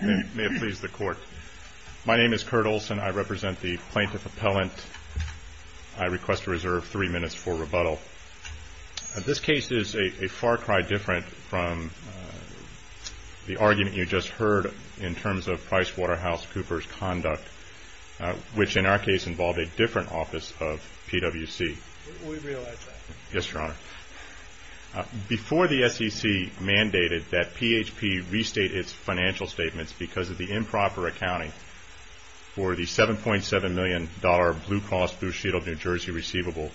May it please the Court. My name is Kurt Olson. I represent the Plaintiff Appellant. I request to reserve three minutes for rebuttal. This case is a far cry different from the argument you just heard in terms of Pricewaterhouse Cooper's conduct, which in our case involved a different office of PWC. We realize that. Yes, Your Honor. Before the SEC mandated that because of the improper accounting for the $7.7 million Blue Cross Blue Shield of New Jersey receivable,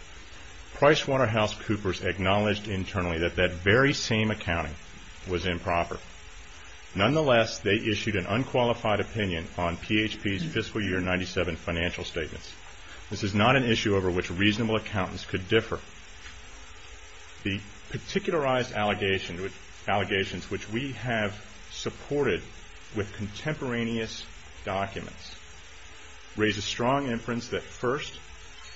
Pricewaterhouse Coopers acknowledged internally that that very same accounting was improper. Nonetheless, they issued an unqualified opinion on PHP's Fiscal Year 1997 financial statements. This is not an issue over which reasonable accountants could differ. The particularized allegations which we have supported with the plaintiff's contemporaneous documents raise a strong inference that first,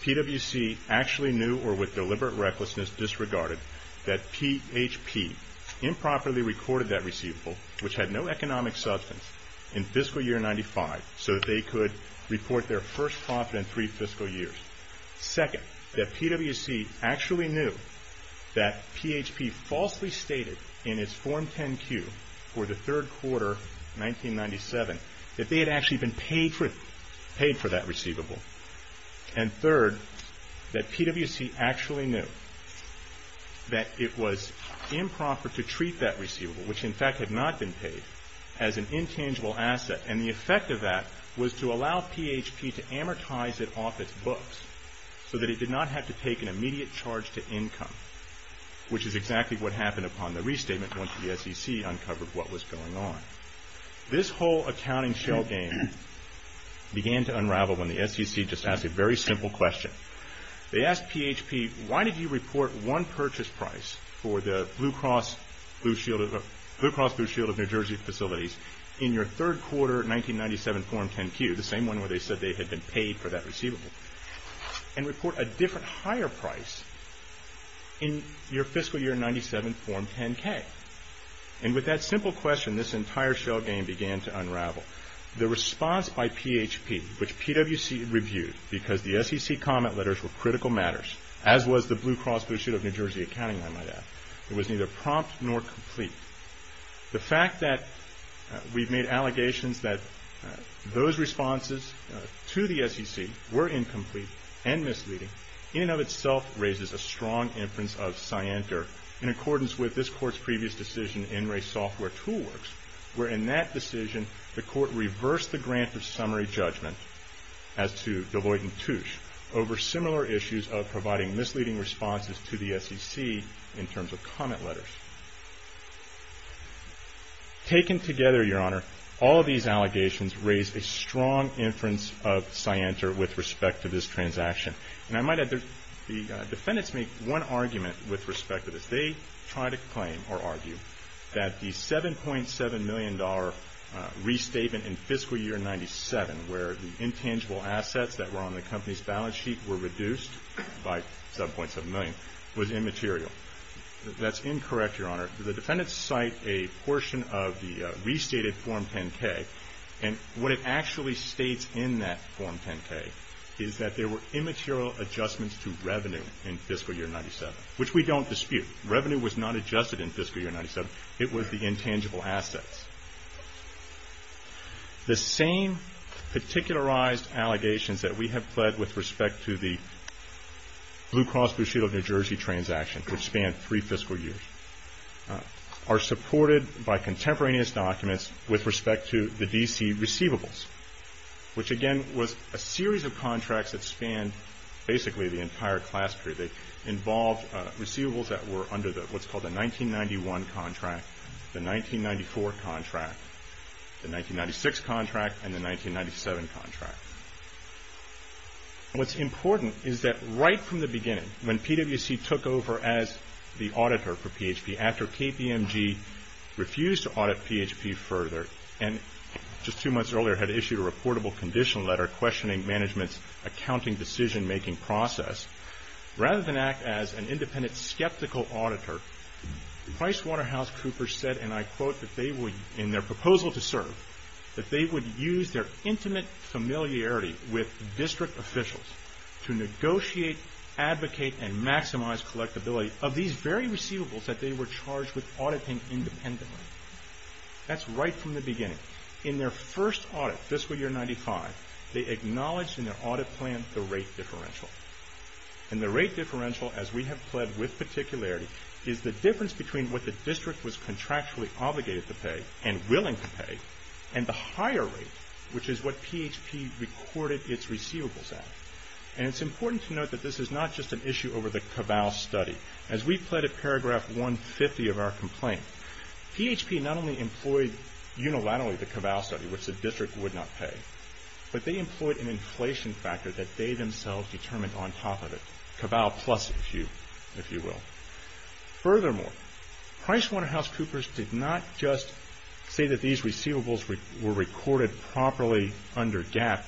PWC actually knew or with deliberate recklessness disregarded that PHP improperly recorded that receivable, which had no economic substance, in Fiscal Year 1995 so that they could report their first profit in three fiscal years. Second, that PWC actually knew that PHP falsely stated in its Form 10-Q for the year 1997 that they had actually been paid for that receivable. And third, that PWC actually knew that it was improper to treat that receivable, which in fact had not been paid, as an intangible asset. And the effect of that was to allow PHP to amortize it off its books so that it did not have to take an immediate charge to income, which is exactly what happened upon the restatement once the SEC uncovered what was going on. This whole accounting shell game began to unravel when the SEC just asked a very simple question. They asked PHP, why did you report one purchase price for the Blue Cross Blue Shield of New Jersey facilities in your third quarter 1997 Form 10-Q, the same one where they said they had been paid for that receivable, and report a different higher price in your Fiscal Year 1997 Form 10-K? And with that simple question, this entire shell game began to unravel. The response by PHP, which PWC reviewed because the SEC comment letters were critical matters, as was the Blue Cross Blue Shield of New Jersey accounting, I might add. It was neither prompt nor complete. The fact that we've made allegations that those responses to the SEC were incomplete and misleading, in and of itself raises a strong inference of cyander in accordance with this Court's previous decision in Ray Software Toolworks, where in that decision the Court reversed the grant of summary judgment as to Deloitte and Touche over similar issues of providing misleading responses to the SEC in terms of comment letters. Taken together, Your Honor, all of these allegations raise a strong inference of cyander with respect to this transaction. And I might add, the defendants make one argument with respect to this. They try to claim, or argue, that the $7.7 million restatement in Fiscal Year 1997, where the intangible assets that were on the company's balance sheet were reduced by $7.7 million, was immaterial. That's incorrect, Your Honor. The defendants cite a portion of the restated Form 10-K, and what it actually states in that Form 10-K is that there were revenue was not adjusted in Fiscal Year 1997. It was the intangible assets. The same particularized allegations that we have pled with respect to the Blue Cross Blue Shield of New Jersey transaction, which spanned three fiscal years, are supported by contemporaneous documents with respect to the D.C. receivables, which again was a series of contracts that were under what's called the 1991 contract, the 1994 contract, the 1996 contract, and the 1997 contract. What's important is that right from the beginning, when PwC took over as the auditor for PHP, after KPMG refused to audit PHP further, and just two months earlier had issued a reportable condition letter questioning management's accounting decision-making process, rather than act as an independent skeptical auditor, PricewaterhouseCoopers said, and I quote, in their proposal to serve, that they would use their intimate familiarity with district officials to negotiate, advocate, and maximize collectability of these very receivables that they were charged with auditing independently. That's right from the beginning. In their first audit, fiscal year 1995, they acknowledged in their audit plan the rate differential. And the rate differential, as we have pled with particularity, is the difference between what the district was contractually obligated to pay, and willing to pay, and the higher rate, which is what PHP recorded its receivables at. And it's important to note that this is not just an issue over the CAVAL study. As we pled at paragraph 150 of our complaint, PHP not only employed unilaterally the CAVAL study, which the district would not pay, but they employed an inflation factor that they themselves determined on top of it. CAVAL plus, if you will. Furthermore, PricewaterhouseCoopers did not just say that these receivables were recorded properly under GAAP.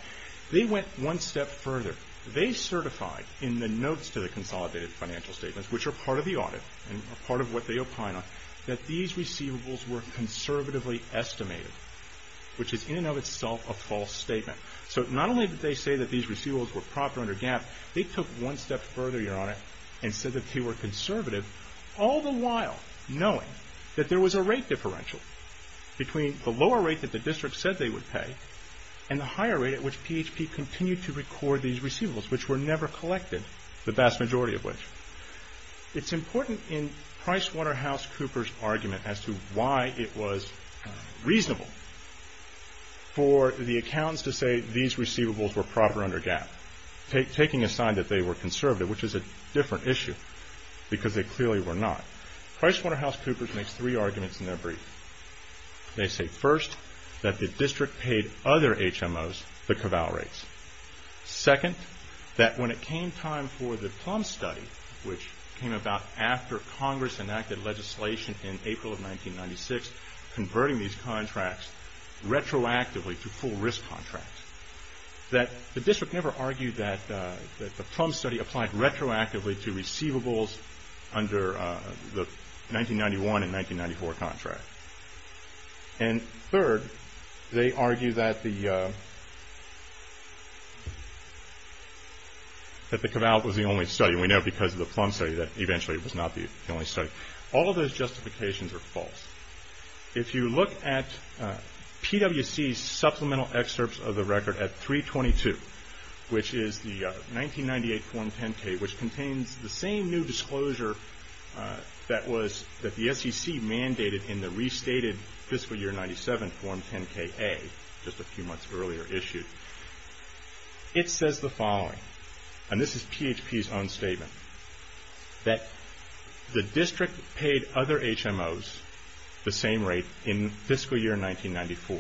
They went one step further. They certified in the notes to the consolidated financial statements, which are part of the audit, and part of what they opine on, that these receivables were conservatively estimated, which is in and of itself a false statement. So not only did they say that these receivables were proper under GAAP, they took one step further, Your Honor, and said that they were conservative, all the while knowing that there was a rate differential between the lower rate that the district said they would pay, and the higher rate at which PHP continued to record these receivables. PricewaterhouseCoopers' argument as to why it was reasonable for the accountants to say these receivables were proper under GAAP, taking aside that they were conservative, which is a different issue, because they clearly were not, PricewaterhouseCoopers makes three arguments in their brief. They say, first, that the district paid other HMOs the CAVAL and PricewaterhouseCoopers enacted legislation in April of 1996 converting these contracts retroactively to full risk contracts. That the district never argued that the PLUM study applied retroactively to receivables under the 1991 and 1994 contracts. And third, they argue that the CAVAL was the only study, and we know because of the PLUM study, that eventually was not the only study. All of those justifications are false. If you look at PWC's supplemental excerpts of the record at 322, which is the 1998 Form 10-K, which contains the same new disclosure that the SEC mandated in the restated Fiscal Year 97 Form 10-K-A, just a few months earlier issued, it says the following, and this is PHP's own statement, that the district paid other HMOs the same rate in Fiscal Year 1994.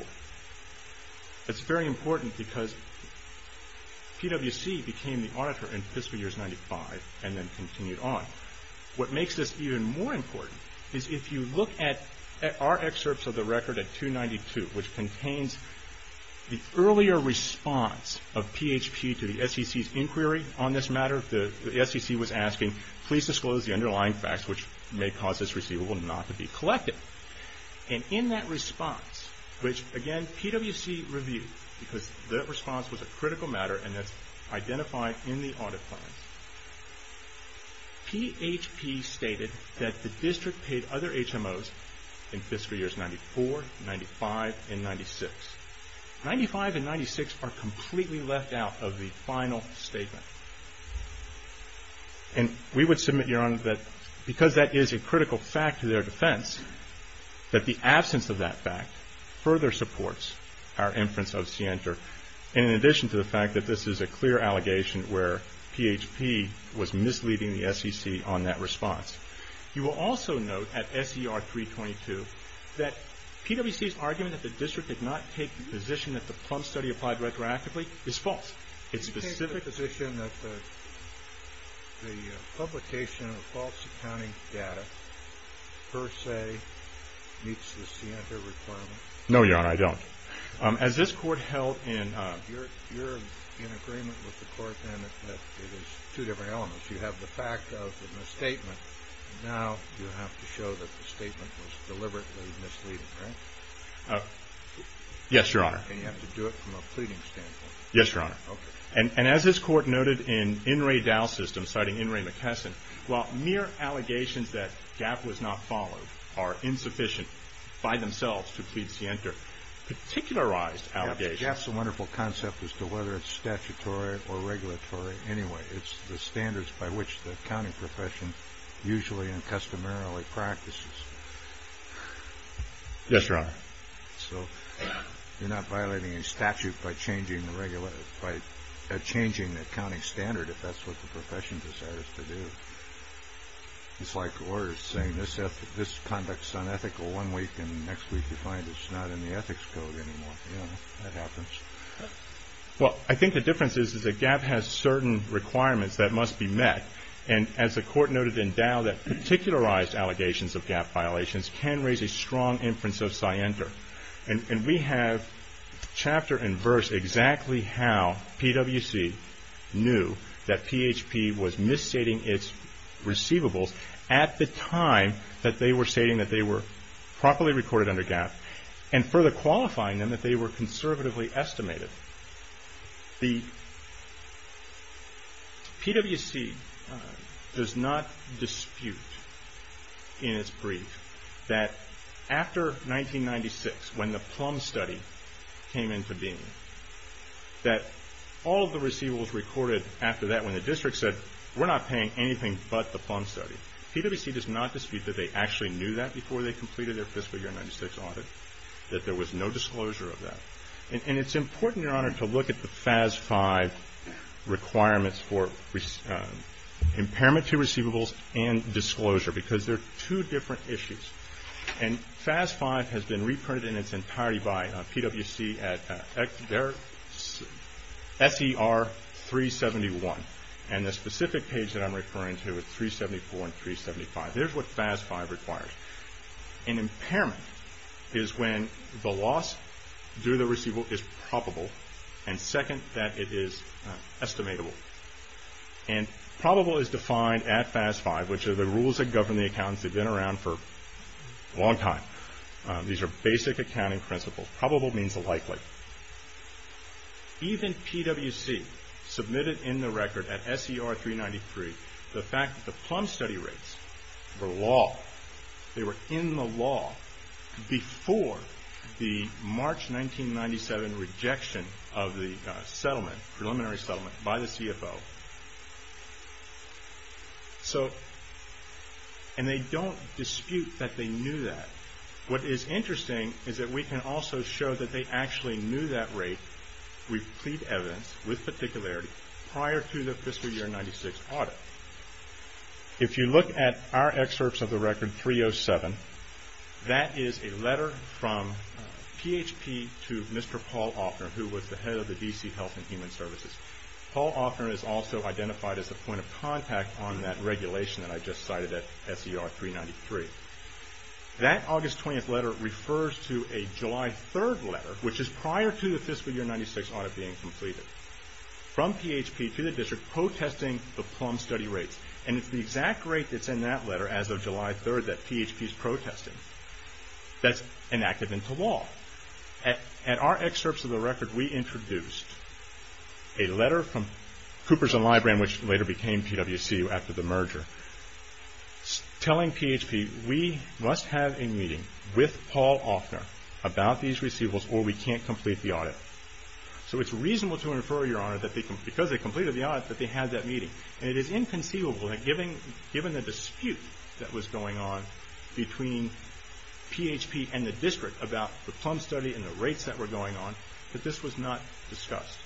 That's very important because PWC became the auditor in Fiscal Year 95 and then continued on. What makes this even more important is if you look at our excerpts of the record at 292, which contains the earlier response of PHP to the SEC's inquiry on this matter. The SEC was asking, please disclose the underlying facts which may cause this receivable not to be collected. And in that response, which again PWC reviewed, because that response was a critical matter and that's identified in the audit plan, PHP stated that the district paid other HMOs in Fiscal Years 94, 95, and completely left out of the final statement. And we would submit, Your Honor, that because that is a critical fact to their defense, that the absence of that fact further supports our inference of CNTR, in addition to the fact that this is a clear allegation where PHP was misleading the SEC on that response. You will also note at SER 322 that PWC's argument that the district did not take the position that the Plum Study applied retroactively is false. It's specific... Do you take the position that the publication of false accounting data per se meets the CNTR requirement? No, Your Honor, I don't. As this Court held in... You're in agreement with the Court then that it is two different elements. You have the fact of the misstatement. Now you have to show that the statement was deliberately misleading, right? Yes, Your Honor. And you have to do it from a pleading standpoint. Yes, Your Honor. Okay. And as this Court noted in In re Dao System, citing In re McKesson, while mere allegations that GAAP was not followed are insufficient by themselves to plead CNTR, particularized allegations... GAAP's a wonderful concept as to whether it's statutory or regulatory. Anyway, it's the standards by which the accounting profession usually and customarily practices. Yes, Your Honor. So you're not violating any statute by changing the accounting standard if that's what the profession desires to do. It's like lawyers saying this conduct's unethical one week and next week you find it's not in the ethics code anymore. You know, that happens. Well, I think the difference is that GAAP has certain requirements that must be met. And as the Court noted in Dao, that particularized allegations of GAAP violations can raise a And we have chapter and verse exactly how PwC knew that PHP was misstating its receivables at the time that they were stating that they were properly recorded under GAAP and further qualifying them that they were conservatively estimated. The PwC does not dispute in its brief that after 1996, when the GAAP Act was passed, in 1996, when the Plum Study came into being, that all the receivables recorded after that when the district said, we're not paying anything but the Plum Study. PwC does not dispute that they actually knew that before they completed their fiscal year 1996 audit, that there was no disclosure of that. And it's important, Your Honor, to look at the FAS 5 requirements for impairment to receivables and disclosure, because they're two different issues. And FAS 5 has been reprinted in its entirety by PwC at SER 371. And the specific page that I'm referring to is 374 and 375. There's what FAS 5 requires. An impairment is when the loss due to the receivable is probable, and second, that it is estimatable. And probable is defined at FAS 5, which are the rules that govern the accountants. They've been around for a long time. These are basic accounting principles. Probable means likely. Even PwC submitted in the record at SER 393 the fact that the Plum Study rates were law. They were in the law before the March 1997 rejection of the settlement, preliminary settlement, by the CFO. And they don't dispute that they knew that. What is interesting is that we can also show that they actually knew that rate, we plead evidence with particularity, prior to the fiscal year 1996 audit. If you look at our excerpts of the record 307, that is a letter from PHP to Mr. Paul Offner, who was the head of the D.C. Health and Human Services. Paul Offner is also identified as a point of contact on that regulation that I just cited at SER 393. That August 20th letter refers to a July 3rd letter, which is prior to the fiscal year 1996 audit being completed, from PHP to the district protesting the Plum Study rates. And it's the exact rate that's in that letter, as of July 3rd, that PHP's protesting, that's enacted into law. At our excerpts of the record, we introduced a letter from Cooperson Library, which later became PWCU after the merger, telling PHP, we must have a meeting with Paul Offner about these receivables or we can't complete the audit. So it's reasonable to infer, Your Honor, that because they completed the audit, that they had that meeting. And it is inconceivable that given the dispute that was going on between PHP and the district about the Plum Study and the rates that were going on, that this was not discussed.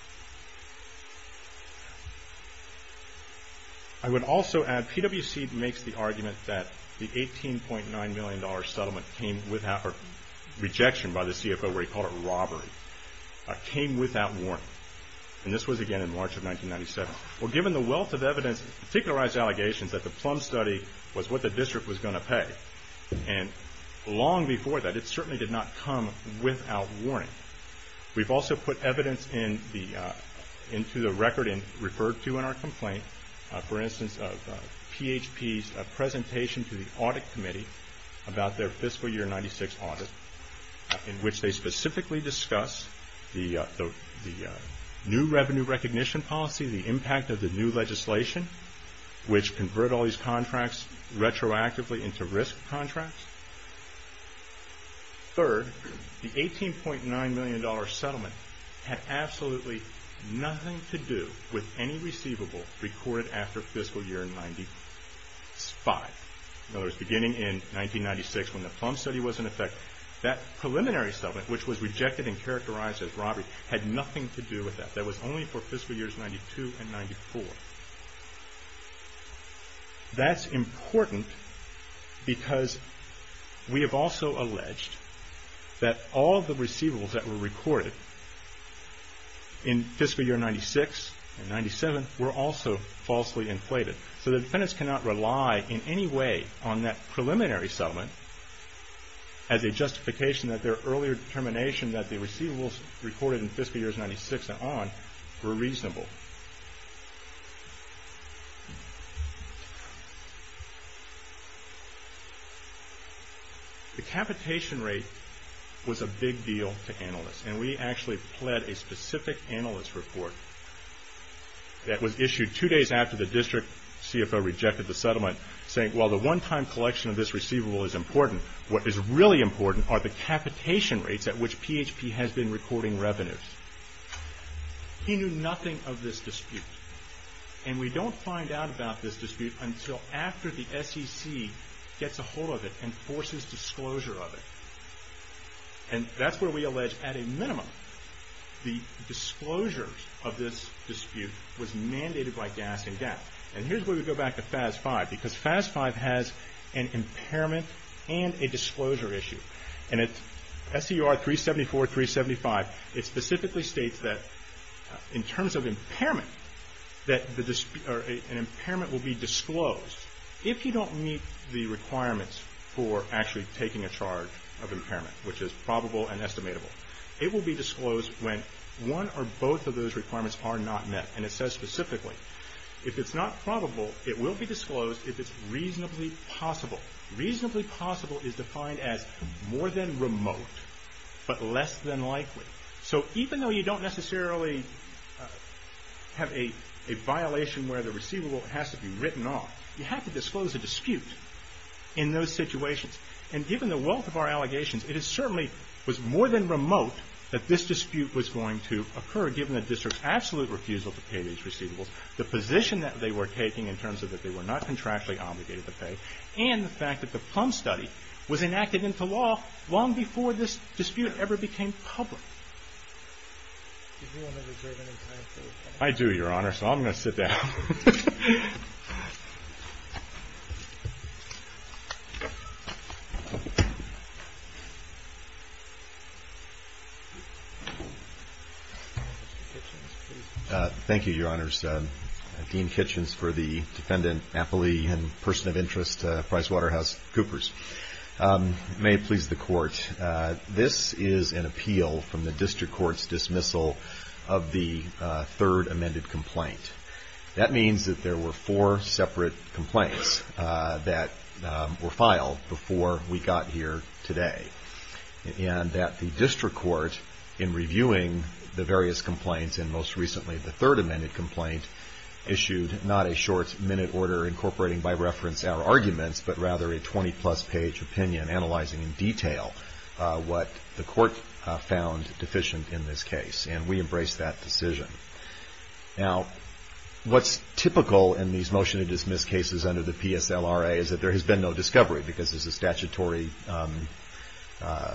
I would also add, PWC makes the argument that the $18.9 million settlement came without, or rejection by the CFO, where he called it robbery, came without warning. And this was, again, in March of 1997. Well, given the wealth of evidence, particularized allegations, that the Plum Study was what the district was going to pay, and long before that, it certainly did not come without warning. We've also put evidence into the record and referred to in our complaint, for instance, of PHP's presentation to the Audit Committee about their fiscal year 96 audit, in which they specifically discuss the new revenue recognition policy, the impact of the new legislation, which convert all these contracts retroactively into risk contracts. Third, the $18.9 million settlement had absolutely nothing to do with any receivable recorded after fiscal year 95. In other words, beginning in 1996, when the Plum Study was in effect, that preliminary settlement, which was rejected and characterized as robbery, had nothing to do with that. That was only for fiscal years 92 and 94. That's important because we have also alleged that all the receivables that were recorded in fiscal year 96 and 97 were also falsely inflated. So the defendants cannot rely in any way on that preliminary settlement as a justification that their earlier determination that the receivables recorded in fiscal years 96 and on were reasonable. The capitation rate was a big deal to analysts, and we actually pled a specific analyst report that was issued two days after the district CFO rejected the settlement, saying, well, the one-time collection of this receivable is important. What is really important are the capitation rates at which PHP has been recording revenues. He knew nothing of this dispute, and we don't find out about this dispute until after the SEC gets a hold of it and forces disclosure of it. And that's where we allege, at a minimum, the disclosure of this dispute was mandated by gas and gas. And here's where we go back to FAS 5, because FAS 5 has an impairment and a disclosure issue. And at SCR 374, 375, it specifically states that in terms of impairment, that an impairment will be disclosed if you don't meet the requirements for actually taking a charge of impairment, which is probable and estimatable. It will be disclosed when one or both of those requirements are not met. And it says specifically, if it's not probable, it will be disclosed if it's reasonably possible. Reasonably possible is defined as more than remote, but less than likely. So even though you don't necessarily have a violation where the receivable has to be written off, you have to disclose a dispute in those situations. And given the wealth of our allegations, it certainly was more than remote that this dispute was going to occur, given the district's absolute refusal to pay these receivables, the position that they were taking in terms of that they were not contractually obligated to pay, and the fact that the Plum Study was enacted into law long before this dispute ever became public. I do, Your Honor, so I'm going to sit down. Thank you, Your Honors. Dean Kitchens for the defendant, Napoli, and person of interest, PricewaterhouseCoopers. May it please the Court. This is an appeal from the district court's dismissal of the third amended complaint. That means that there were four separate complaints that were filed before we got here today, and that the district court, in reviewing the various complaints, and most recently the third amended complaint, issued not a short minute order incorporating, by reference, our arguments, but rather a 20-plus page opinion analyzing in detail what the court found deficient in this case. And we embraced that decision. Now, what's typical in these motion to dismiss cases under the PSLRA is that there has been no discovery, because there's a statutory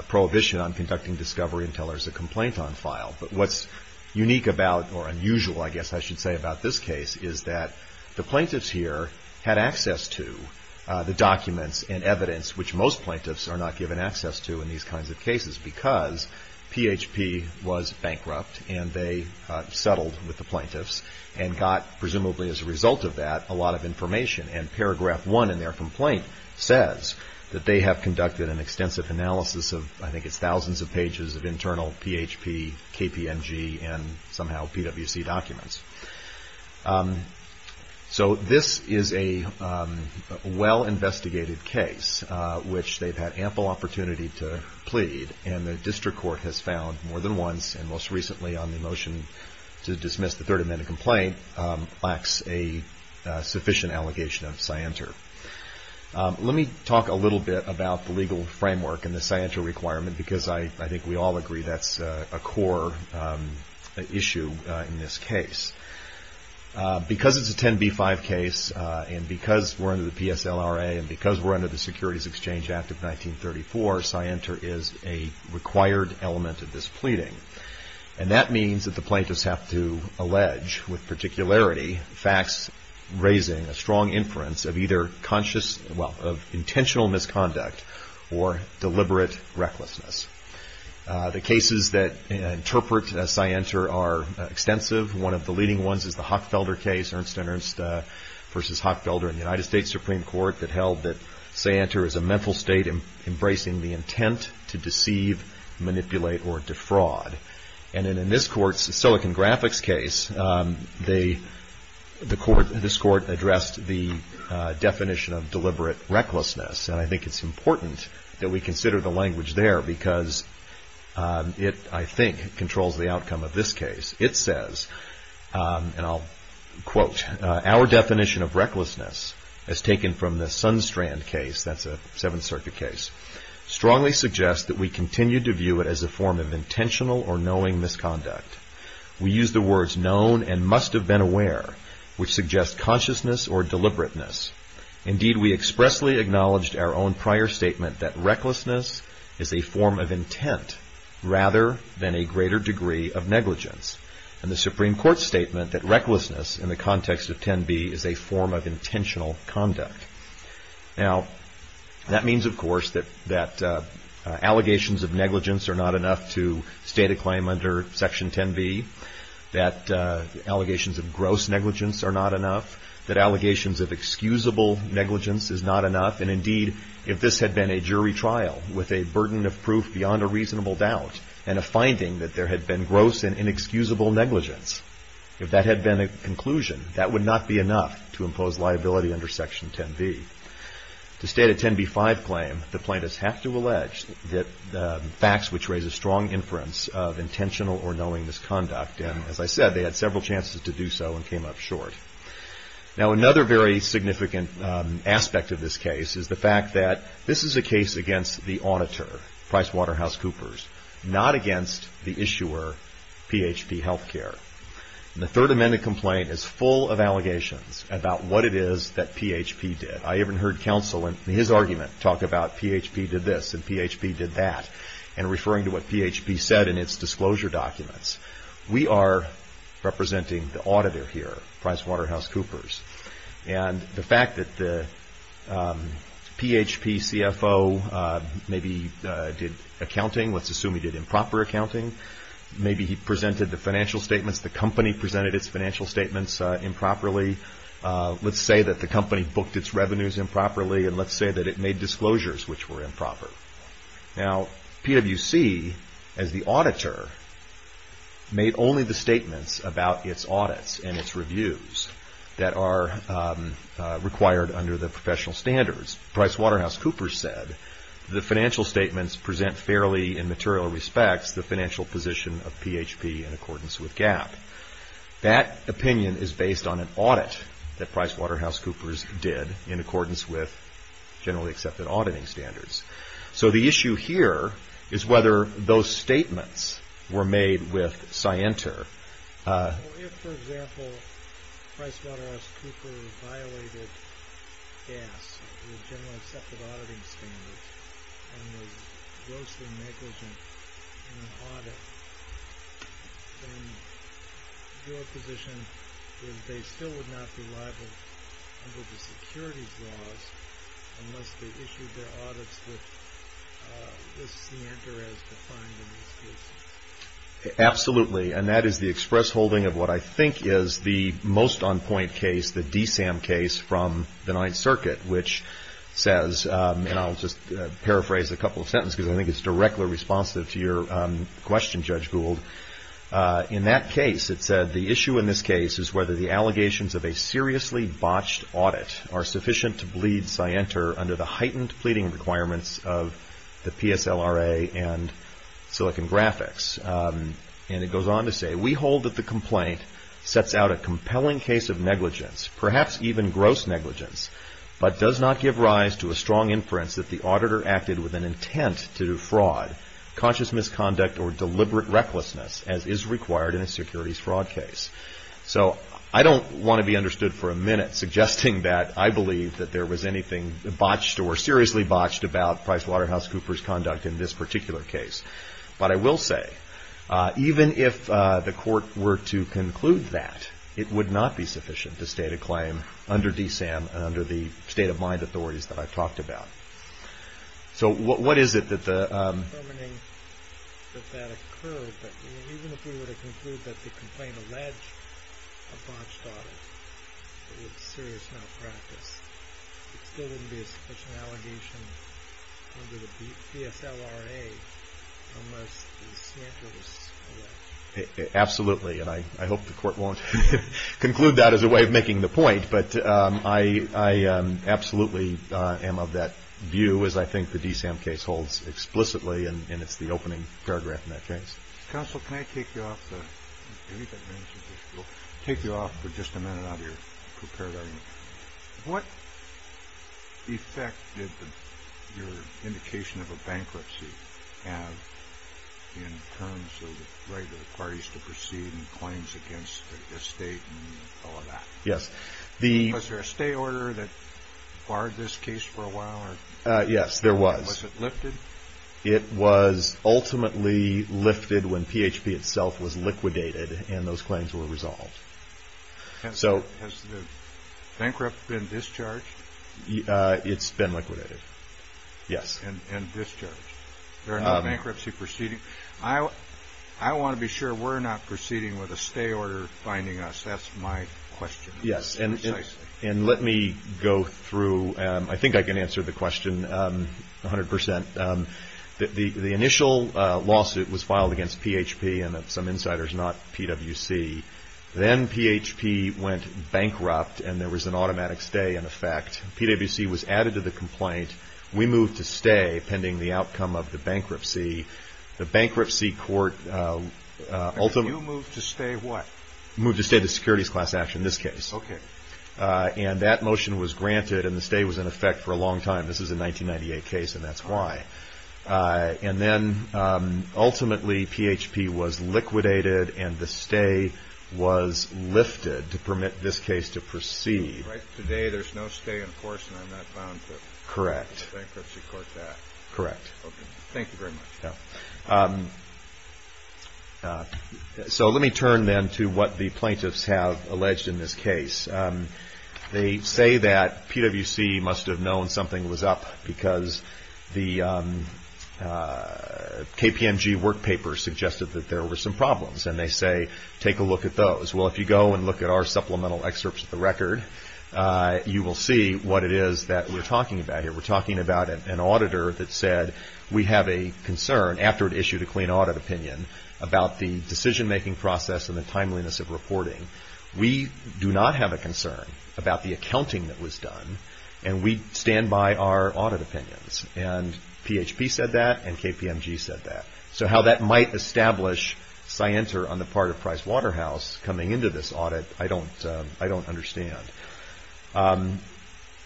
prohibition on conducting discovery until there's a complaint on file. But what's unique about, or unusual, I guess I should say, about this case is that the plaintiffs here had access to the documents and evidence, which most plaintiffs are not given access to in these kinds of cases, because PHP was bankrupt and they settled with the plaintiffs and got, presumably as a result of that, a lot of information. And paragraph one in their complaint says that they have conducted an extensive analysis of, I think it's thousands of pages of internal PHP, KPMG, and somehow PWC documents. So this is a well-investigated case, which they've had ample opportunity to plead, and the district court has found more than once, and most recently on the motion to dismiss the third amended complaint, lacks a sufficient allegation of scienter. Let me talk a little bit about the legal framework and the scienter requirement, because I think we all agree that's a core issue in this case. Because it's a 10b-5 case, and because we're under the PSLRA, and because we're under the Securities Exchange Act of 1934, scienter is a required element of this pleading. And that means that the plaintiffs have to allege, with particularity, facts raising a strong inference of either intentional misconduct or deliberate recklessness. The cases that interpret scienter are extensive. One of the leading ones is the Hockfelder case, Ernst & Ernst v. Hockfelder in the United States Supreme Court, that held that scienter is a mental state embracing the intent to deceive, manipulate, or defraud. And in this court's Silicon Graphics case, this court addressed the definition of deliberate recklessness. And I think it's important that we consider the language there, because it, I think, controls the outcome of this case. It says, and I'll quote, Our definition of recklessness, as taken from the Sunstrand case, that's a Seventh Circuit case, strongly suggests that we continue to view it as a form of intentional or knowing misconduct. We use the words known and must have been aware, which suggest consciousness or deliberateness. Indeed, we expressly acknowledged our own prior statement that recklessness is a form of intent, rather than a greater degree of negligence. And the Supreme Court's statement that recklessness, in the context of 10b, is a form of intentional conduct. Now, that means, of course, that allegations of negligence are not enough to state a claim under Section 10b, that allegations of gross negligence are not enough, that allegations of excusable negligence is not enough. And indeed, if this had been a jury trial, with a burden of proof beyond a reasonable doubt, and a finding that there had been gross and inexcusable negligence, if that had been a conclusion, that would not be enough to impose liability under Section 10b. To state a 10b-5 claim, the plaintiffs have to allege that facts which raise a strong inference of intentional or knowing misconduct. And, as I said, they had several chances to do so and came up short. Now, another very significant aspect of this case is the fact that this is a case against the auditor, PricewaterhouseCoopers, not against the issuer, PHP Healthcare. And the Third Amendment complaint is full of allegations about what it is that PHP did. I even heard counsel, in his argument, talk about PHP did this and PHP did that, and referring to what PHP said in its disclosure documents. We are representing the auditor here, PricewaterhouseCoopers. And the fact that the PHP CFO maybe did accounting, let's assume he did improper accounting, maybe he presented the financial statements, the company presented its financial statements improperly, let's say that the company booked its revenues improperly, and let's say that it made disclosures which were improper. Now, PwC, as the auditor, made only the statements about its audits and its reviews that are required under the professional standards. PricewaterhouseCoopers said the financial statements present fairly, in material respects, the financial position of PHP in accordance with GAAP. That opinion is based on an audit that PricewaterhouseCoopers did in accordance with generally accepted auditing standards. So the issue here is whether those statements were made with Scienter. If, for example, PricewaterhouseCoopers violated GAAP, the generally accepted auditing standards, and was grossly negligent in an audit, then your position is they still would not be liable under the securities laws unless they issued their audits with the Scienter as defined in these cases. Absolutely, and that is the express holding of what I think is the most on-point case, the DSAM case from the Ninth Circuit, which says, and I'll just paraphrase a couple of sentences because I think it's directly responsive to your question, Judge Gould. In that case, it said the issue in this case is whether the allegations of a seriously botched audit are sufficient to bleed Scienter under the heightened pleading requirements of the PSLRA and Silicon Graphics. And it goes on to say, we hold that the complaint sets out a compelling case of negligence, perhaps even gross negligence, but does not give rise to a strong inference that the auditor acted with an intent to do fraud, conscious misconduct, or deliberate recklessness as is required in a securities fraud case. So I don't want to be understood for a minute suggesting that I believe that there was anything botched or seriously botched about PricewaterhouseCoopers' conduct in this particular case. But I will say, even if the court were to conclude that, it would not be sufficient to state a claim under DSAM and under the state-of-mind authorities that I've talked about. So what is it that the... Absolutely, and I hope the court won't conclude that as a way of making the point, but I absolutely am of that view, as I think the DSAM case holds explicitly, and it's the opening paragraph in that case. Counsel, can I take you off for just a minute out of your prepared argument? What effect did your indication of a bankruptcy have in terms of the right of the parties to proceed and claims against the state and all of that? Yes. Was there a stay order that barred this case for a while? Yes, there was. Was it lifted? It was ultimately lifted when PHP itself was liquidated and those claims were resolved. Has the bankrupt been discharged? It's been liquidated, yes. And discharged. There are no bankruptcy proceedings. I want to be sure we're not proceeding with a stay order finding us. That's my question. Yes, and let me go through. I think I can answer the question 100%. The initial lawsuit was filed against PHP and some insiders, not PWC. Then PHP went bankrupt and there was an automatic stay in effect. PWC was added to the complaint. We moved to stay pending the outcome of the bankruptcy. The bankruptcy court ultimately – You moved to stay what? Moved to stay the securities class action, this case. Okay. That motion was granted and the stay was in effect for a long time. This is a 1998 case and that's why. Then ultimately PHP was liquidated and the stay was lifted to permit this case to proceed. Right today there's no stay in force and I'm not bound to a bankruptcy court act. Correct. Okay, thank you very much. Let me turn then to what the plaintiffs have alleged in this case. They say that PWC must have known something was up because the KPMG work paper suggested that there were some problems. They say take a look at those. If you go and look at our supplemental excerpts of the record, you will see what it is that we're talking about here. We're talking about an auditor that said we have a concern, after it issued a clean audit opinion, about the decision-making process and the timeliness of reporting. We do not have a concern about the accounting that was done and we stand by our audit opinions. And PHP said that and KPMG said that. So how that might establish scienter on the part of Price Waterhouse coming into this audit, I don't understand.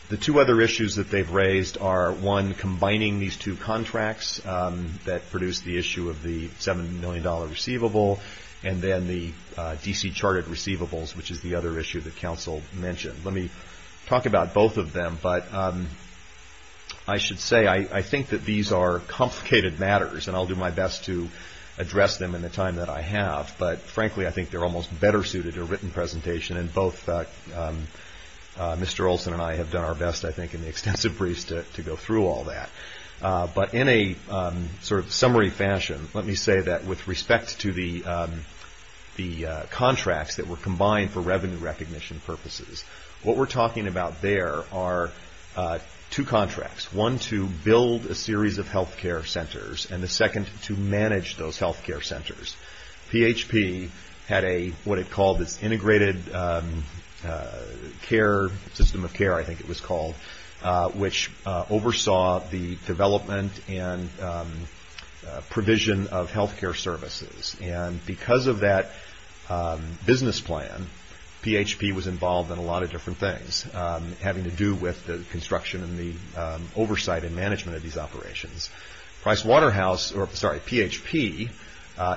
The two other issues that they've raised are, one, combining these two contracts that produce the issue of the $7 million receivable and then the DC charted receivables, which is the other issue that counsel mentioned. Let me talk about both of them, but I should say I think that these are complicated matters and I'll do my best to address them in the time that I have. But frankly, I think they're almost better suited to a written presentation and both Mr. Olson and I have done our best, I think, in the extensive briefs to go through all that. But in a sort of summary fashion, let me say that with respect to the contracts that were combined for revenue recognition purposes, what we're talking about there are two contracts, one to build a series of health care centers and the second to manage those health care centers. PHP had what it called its integrated system of care, I think it was called, which oversaw the development and provision of health care services. And because of that business plan, PHP was involved in a lot of different things, having to do with the construction and the oversight and management of these operations. Price Waterhouse, or sorry, PHP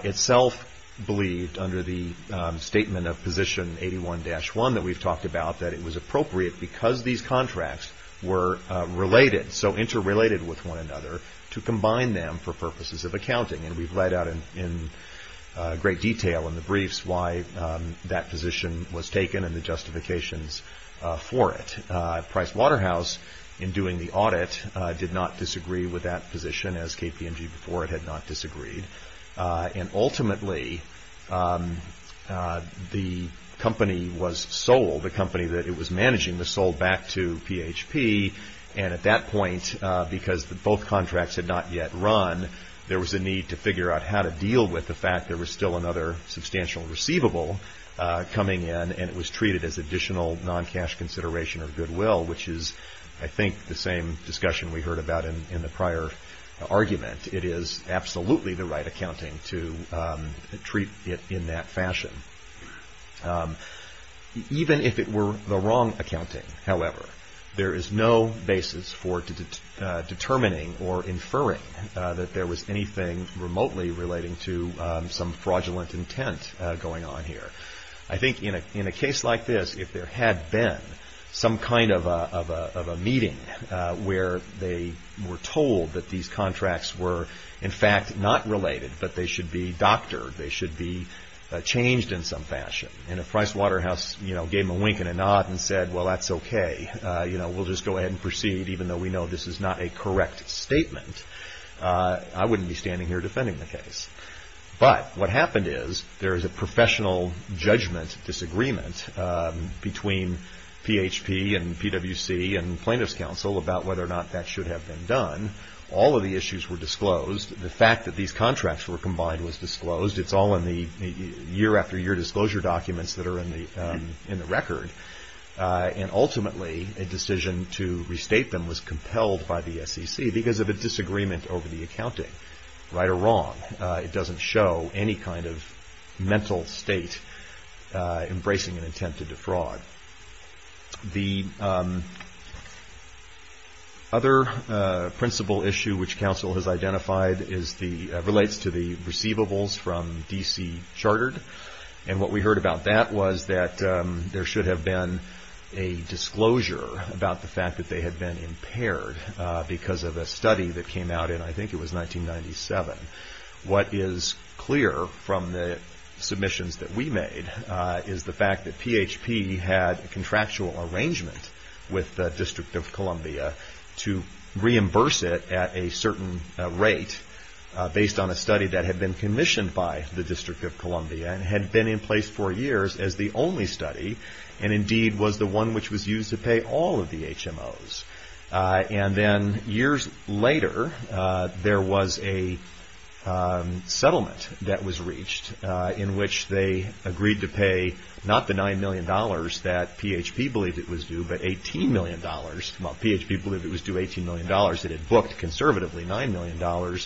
itself believed under the statement of position 81-1 that we've talked about that it was appropriate because these contracts were related, so interrelated with one another, to combine them for purposes of accounting. And we've laid out in great detail in the briefs why that position was taken and the justifications for it. Price Waterhouse, in doing the audit, did not disagree with that position, as KPMG before it had not disagreed. And ultimately, the company was sold, the company that it was managing was sold back to PHP. And at that point, because both contracts had not yet run, there was a need to figure out how to deal with the fact that there was still another substantial receivable coming in, and it was treated as additional non-cash consideration or goodwill, which is, I think, the same discussion we heard about in the prior argument. It is absolutely the right accounting to treat it in that fashion. Even if it were the wrong accounting, however, there is no basis for determining or inferring that there was anything remotely relating to some fraudulent intent going on here. I think in a case like this, if there had been some kind of a meeting where they were told that these contracts were, in fact, not related, but they should be doctored, they should be changed in some fashion, and if Price Waterhouse gave them a wink and a nod and said, well, that's okay, we'll just go ahead and proceed even though we know this is not a correct statement, I wouldn't be standing here defending the case. But what happened is there is a professional judgment disagreement between PHP and PwC and plaintiff's counsel about whether or not that should have been done. All of the issues were disclosed. The fact that these contracts were combined was disclosed. It's all in the year-after-year disclosure documents that are in the record. And ultimately, a decision to restate them was compelled by the SEC because of a disagreement over the accounting, right or wrong. It doesn't show any kind of mental state embracing an intent to defraud. The other principal issue which counsel has identified relates to the receivables from D.C. Chartered, and what we heard about that was that there should have been a disclosure about the fact that they had been impaired because of a study that came out in, I think it was 1997. What is clear from the submissions that we made is the fact that PHP had a contractual arrangement with the District of Columbia to reimburse it at a certain rate based on a study that had been commissioned by the District of Columbia and had been in place for years as the only study and indeed was the one which was used to pay all of the HMOs. And then years later, there was a settlement that was reached in which they agreed to pay not the $9 million that PHP believed it was due, but $18 million. Well, PHP believed it was due $18 million. It had booked conservatively $9 million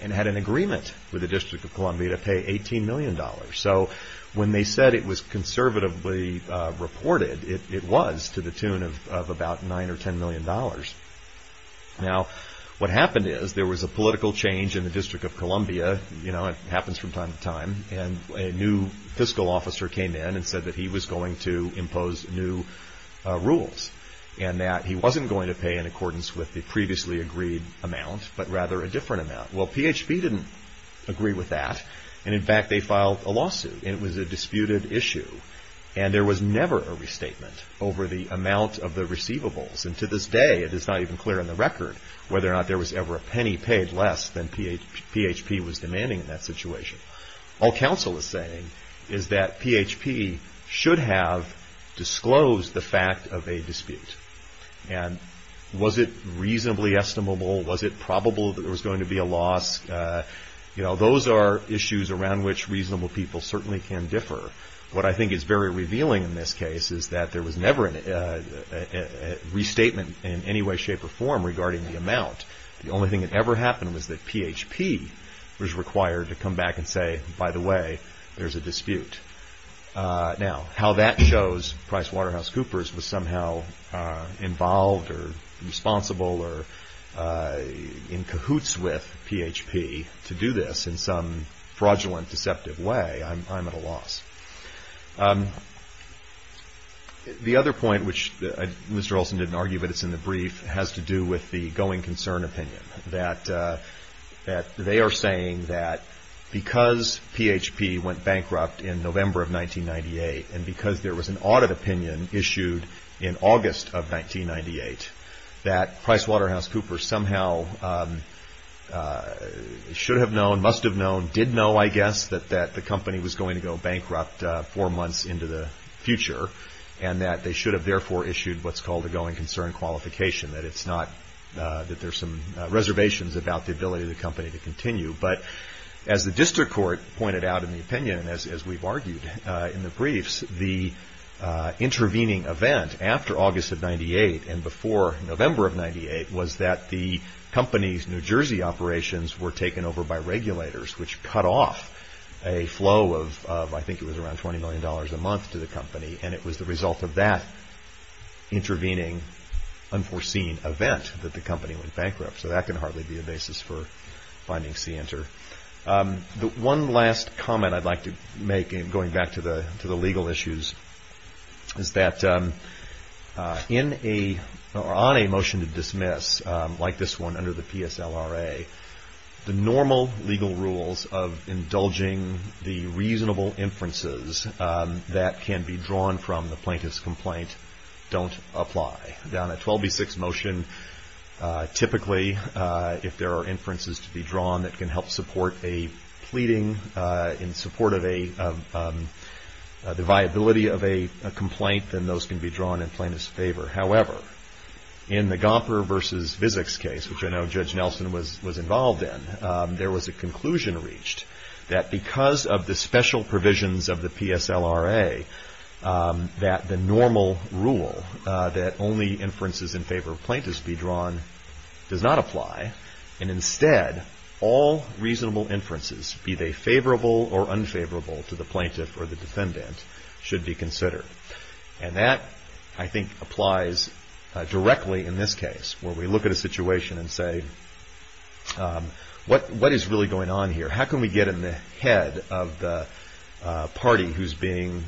and had an agreement with the District of Columbia to pay $18 million. So when they said it was conservatively reported, it was to the tune of about $9 or $10 million. Now, what happened is there was a political change in the District of Columbia. You know, it happens from time to time. And a new fiscal officer came in and said that he was going to impose new rules and that he wasn't going to pay in accordance with the previously agreed amount, but rather a different amount. Well, PHP didn't agree with that. And in fact, they filed a lawsuit. And it was a disputed issue. And there was never a restatement over the amount of the receivables. And to this day, it is not even clear on the record whether or not there was ever a penny paid less than PHP was demanding in that situation. All counsel is saying is that PHP should have disclosed the fact of a dispute. And was it reasonably estimable? Was it probable that there was going to be a loss? You know, those are issues around which reasonable people certainly can differ. What I think is very revealing in this case is that there was never a restatement in any way, shape, or form regarding the amount. The only thing that ever happened was that PHP was required to come back and say, by the way, there's a dispute. Now, how that shows PricewaterhouseCoopers was somehow involved or responsible or in cahoots with PHP to do this in some fraudulent, deceptive way, I'm at a loss. The other point, which Mr. Olson didn't argue, but it's in the brief, has to do with the going concern opinion. That they are saying that because PHP went bankrupt in November of 1998, and because there was an audit opinion issued in August of 1998, that PricewaterhouseCoopers somehow should have known, must have known, did know, I guess, that the company was going to go bankrupt four months into the future. And that they should have therefore issued what's called a going concern qualification. That it's not, that there's some reservations about the ability of the company to continue. But as the district court pointed out in the opinion, as we've argued in the briefs, the intervening event after August of 1998 and before November of 1998, was that the company's New Jersey operations were taken over by regulators, which cut off a flow of, I think it was around $20 million a month to the company. And it was the result of that intervening, unforeseen event that the company went bankrupt. So that can hardly be a basis for finding Center. The one last comment I'd like to make, going back to the legal issues, is that on a motion to dismiss, like this one under the PSLRA, the normal legal rules of indulging the reasonable inferences that can be drawn from the plaintiff's complaint don't apply. On a 12B6 motion, typically, if there are inferences to be drawn that can help support a pleading in support of the viability of a complaint, then those can be drawn in plaintiff's favor. However, in the Gomper v. Vizic's case, which I know Judge Nelson was involved in, there was a conclusion reached that because of the special provisions of the PSLRA, that the normal rule that only inferences in favor of plaintiffs be drawn does not apply. And instead, all reasonable inferences, be they favorable or unfavorable to the plaintiff or the defendant, should be considered. And that, I think, applies directly in this case, where we look at a situation and say, what is really going on here? How can we get in the head of the party who's being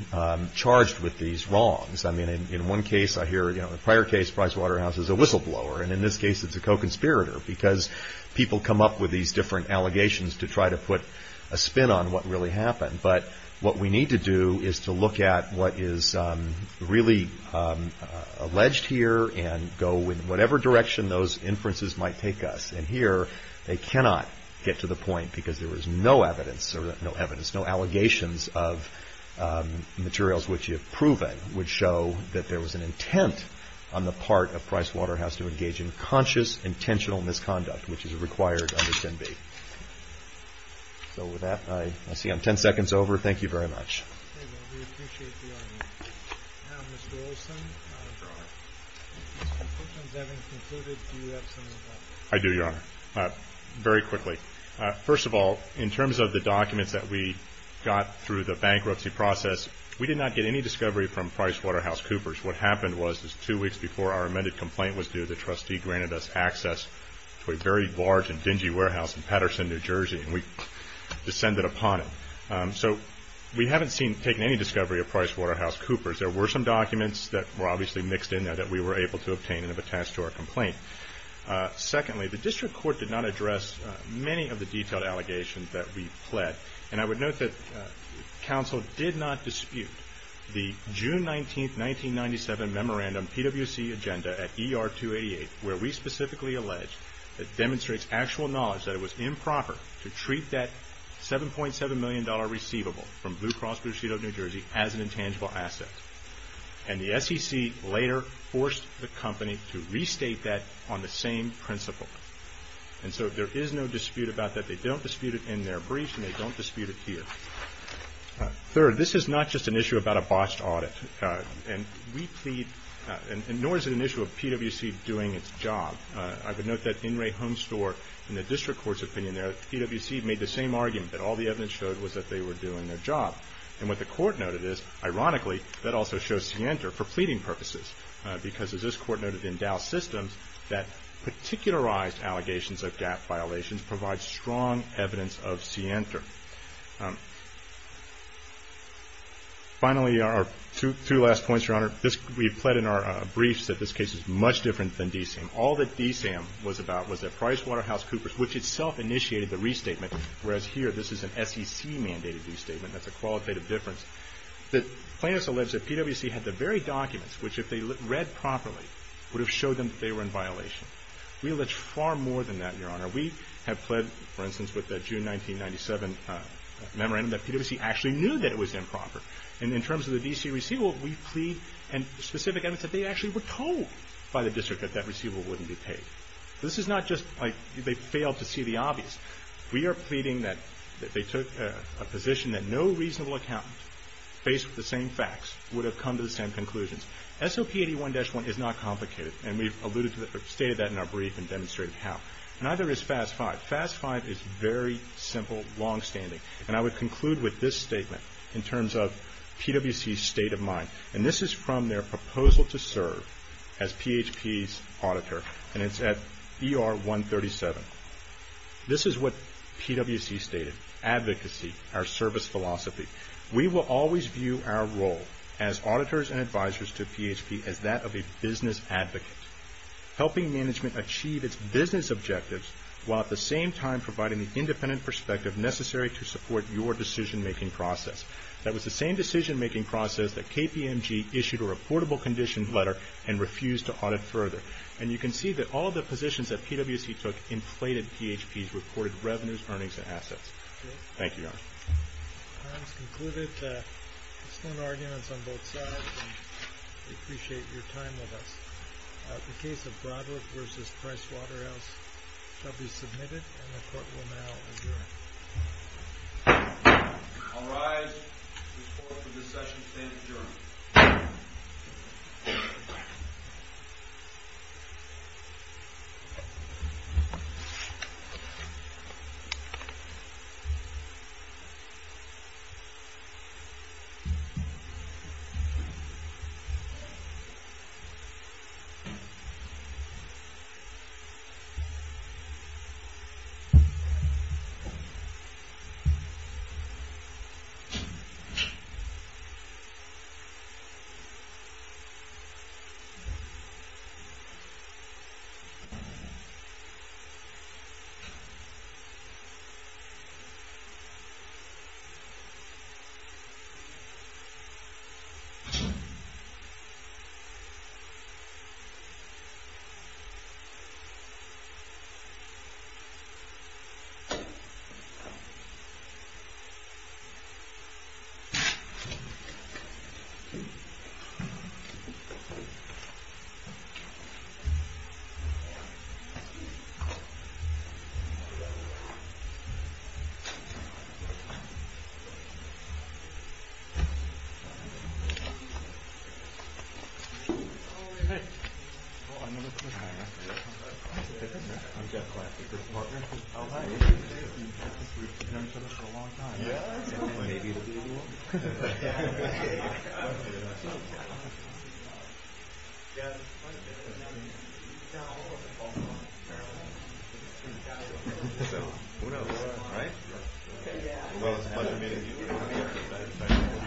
charged with these wrongs? I mean, in one case, I hear, you know, in a prior case, Pricewaterhouse is a whistleblower. And in this case, it's a co-conspirator because people come up with these different allegations to try to put a spin on what really happened. But what we need to do is to look at what is really alleged here and go in whatever direction those inferences might take us. And here, they cannot get to the point because there is no evidence or no evidence, no allegations of materials which you have proven would show that there was an intent on the part of Pricewaterhouse to engage in conscious, intentional misconduct, which is required under 10b. So with that, I see I'm 10 seconds over. Thank you very much. Okay, well, we appreciate the honor. Now, Mr. Olson, questions having concluded, do you have something to add? I do, Your Honor. Very quickly. First of all, in terms of the documents that we got through the bankruptcy process, we did not get any discovery from PricewaterhouseCoopers. What happened was, two weeks before our amended complaint was due, the trustee granted us access to a very large and dingy warehouse in Patterson, New Jersey, and we descended upon it. So we haven't taken any discovery of PricewaterhouseCoopers. There were some documents that were obviously mixed in there that we were able to obtain and have attached to our complaint. Secondly, the district court did not address many of the detailed allegations that we pled. And I would note that counsel did not dispute the June 19, 1997, memorandum PwC agenda at ER 288, where we specifically allege that demonstrates actual knowledge that it was improper to treat that $7.7 million receivable from Blue Cross Blue Shield of New Jersey as an intangible asset. And the SEC later forced the company to restate that on the same principle. And so there is no dispute about that. They don't dispute it in their brief, and they don't dispute it here. Third, this is not just an issue about a botched audit. And we plead, and nor is it an issue of PwC doing its job. I would note that in Ray Homestore, in the district court's opinion there, PwC made the same argument that all the evidence showed was that they were doing their job. And what the court noted is, ironically, that also shows scienter for pleading purposes, because as this court noted in Dow Systems, that particularized allegations of gap violations provide strong evidence of scienter. Finally, our two last points, Your Honor. We pled in our briefs that this case is much different than DSAM. All that DSAM was about was that PricewaterhouseCoopers, which itself initiated the restatement, whereas here this is an SEC-mandated restatement. That's a qualitative difference. The plaintiffs allege that PwC had the very documents which, if they read properly, would have showed them that they were in violation. We allege far more than that, Your Honor. We have pled, for instance, with the June 1997 memorandum, that PwC actually knew that it was improper. And in terms of the DC receivable, we plead and specific evidence that they actually were told by the district that that receivable wouldn't be paid. This is not just like they failed to see the obvious. We are pleading that they took a position that no reasonable accountant, faced with the same facts, would have come to the same conclusions. SOP 81-1 is not complicated, and we've alluded to that or stated that in our brief and demonstrated how. Neither is FAS 5. FAS 5 is very simple, longstanding. And I would conclude with this statement in terms of PwC's state of mind. And this is from their proposal to serve as PHP's auditor, and it's at ER 137. This is what PwC stated. Advocacy, our service philosophy. We will always view our role as auditors and advisors to PHP as that of a business advocate. Helping management achieve its business objectives, while at the same time providing the independent perspective necessary to support your decision-making process. That was the same decision-making process that KPMG issued a reportable condition letter and refused to audit further. And you can see that all the positions that PwC took inflated PHP's reported revenues, earnings, and assets. Thank you, Your Honor. The time has concluded. There's no arguments on both sides. We appreciate your time with us. The case of Broderick v. Price Waterhouse shall be submitted, and the court will now adjourn. All rise. The court for this session stands adjourned. Thank you. Thank you. Thank you. Thank you.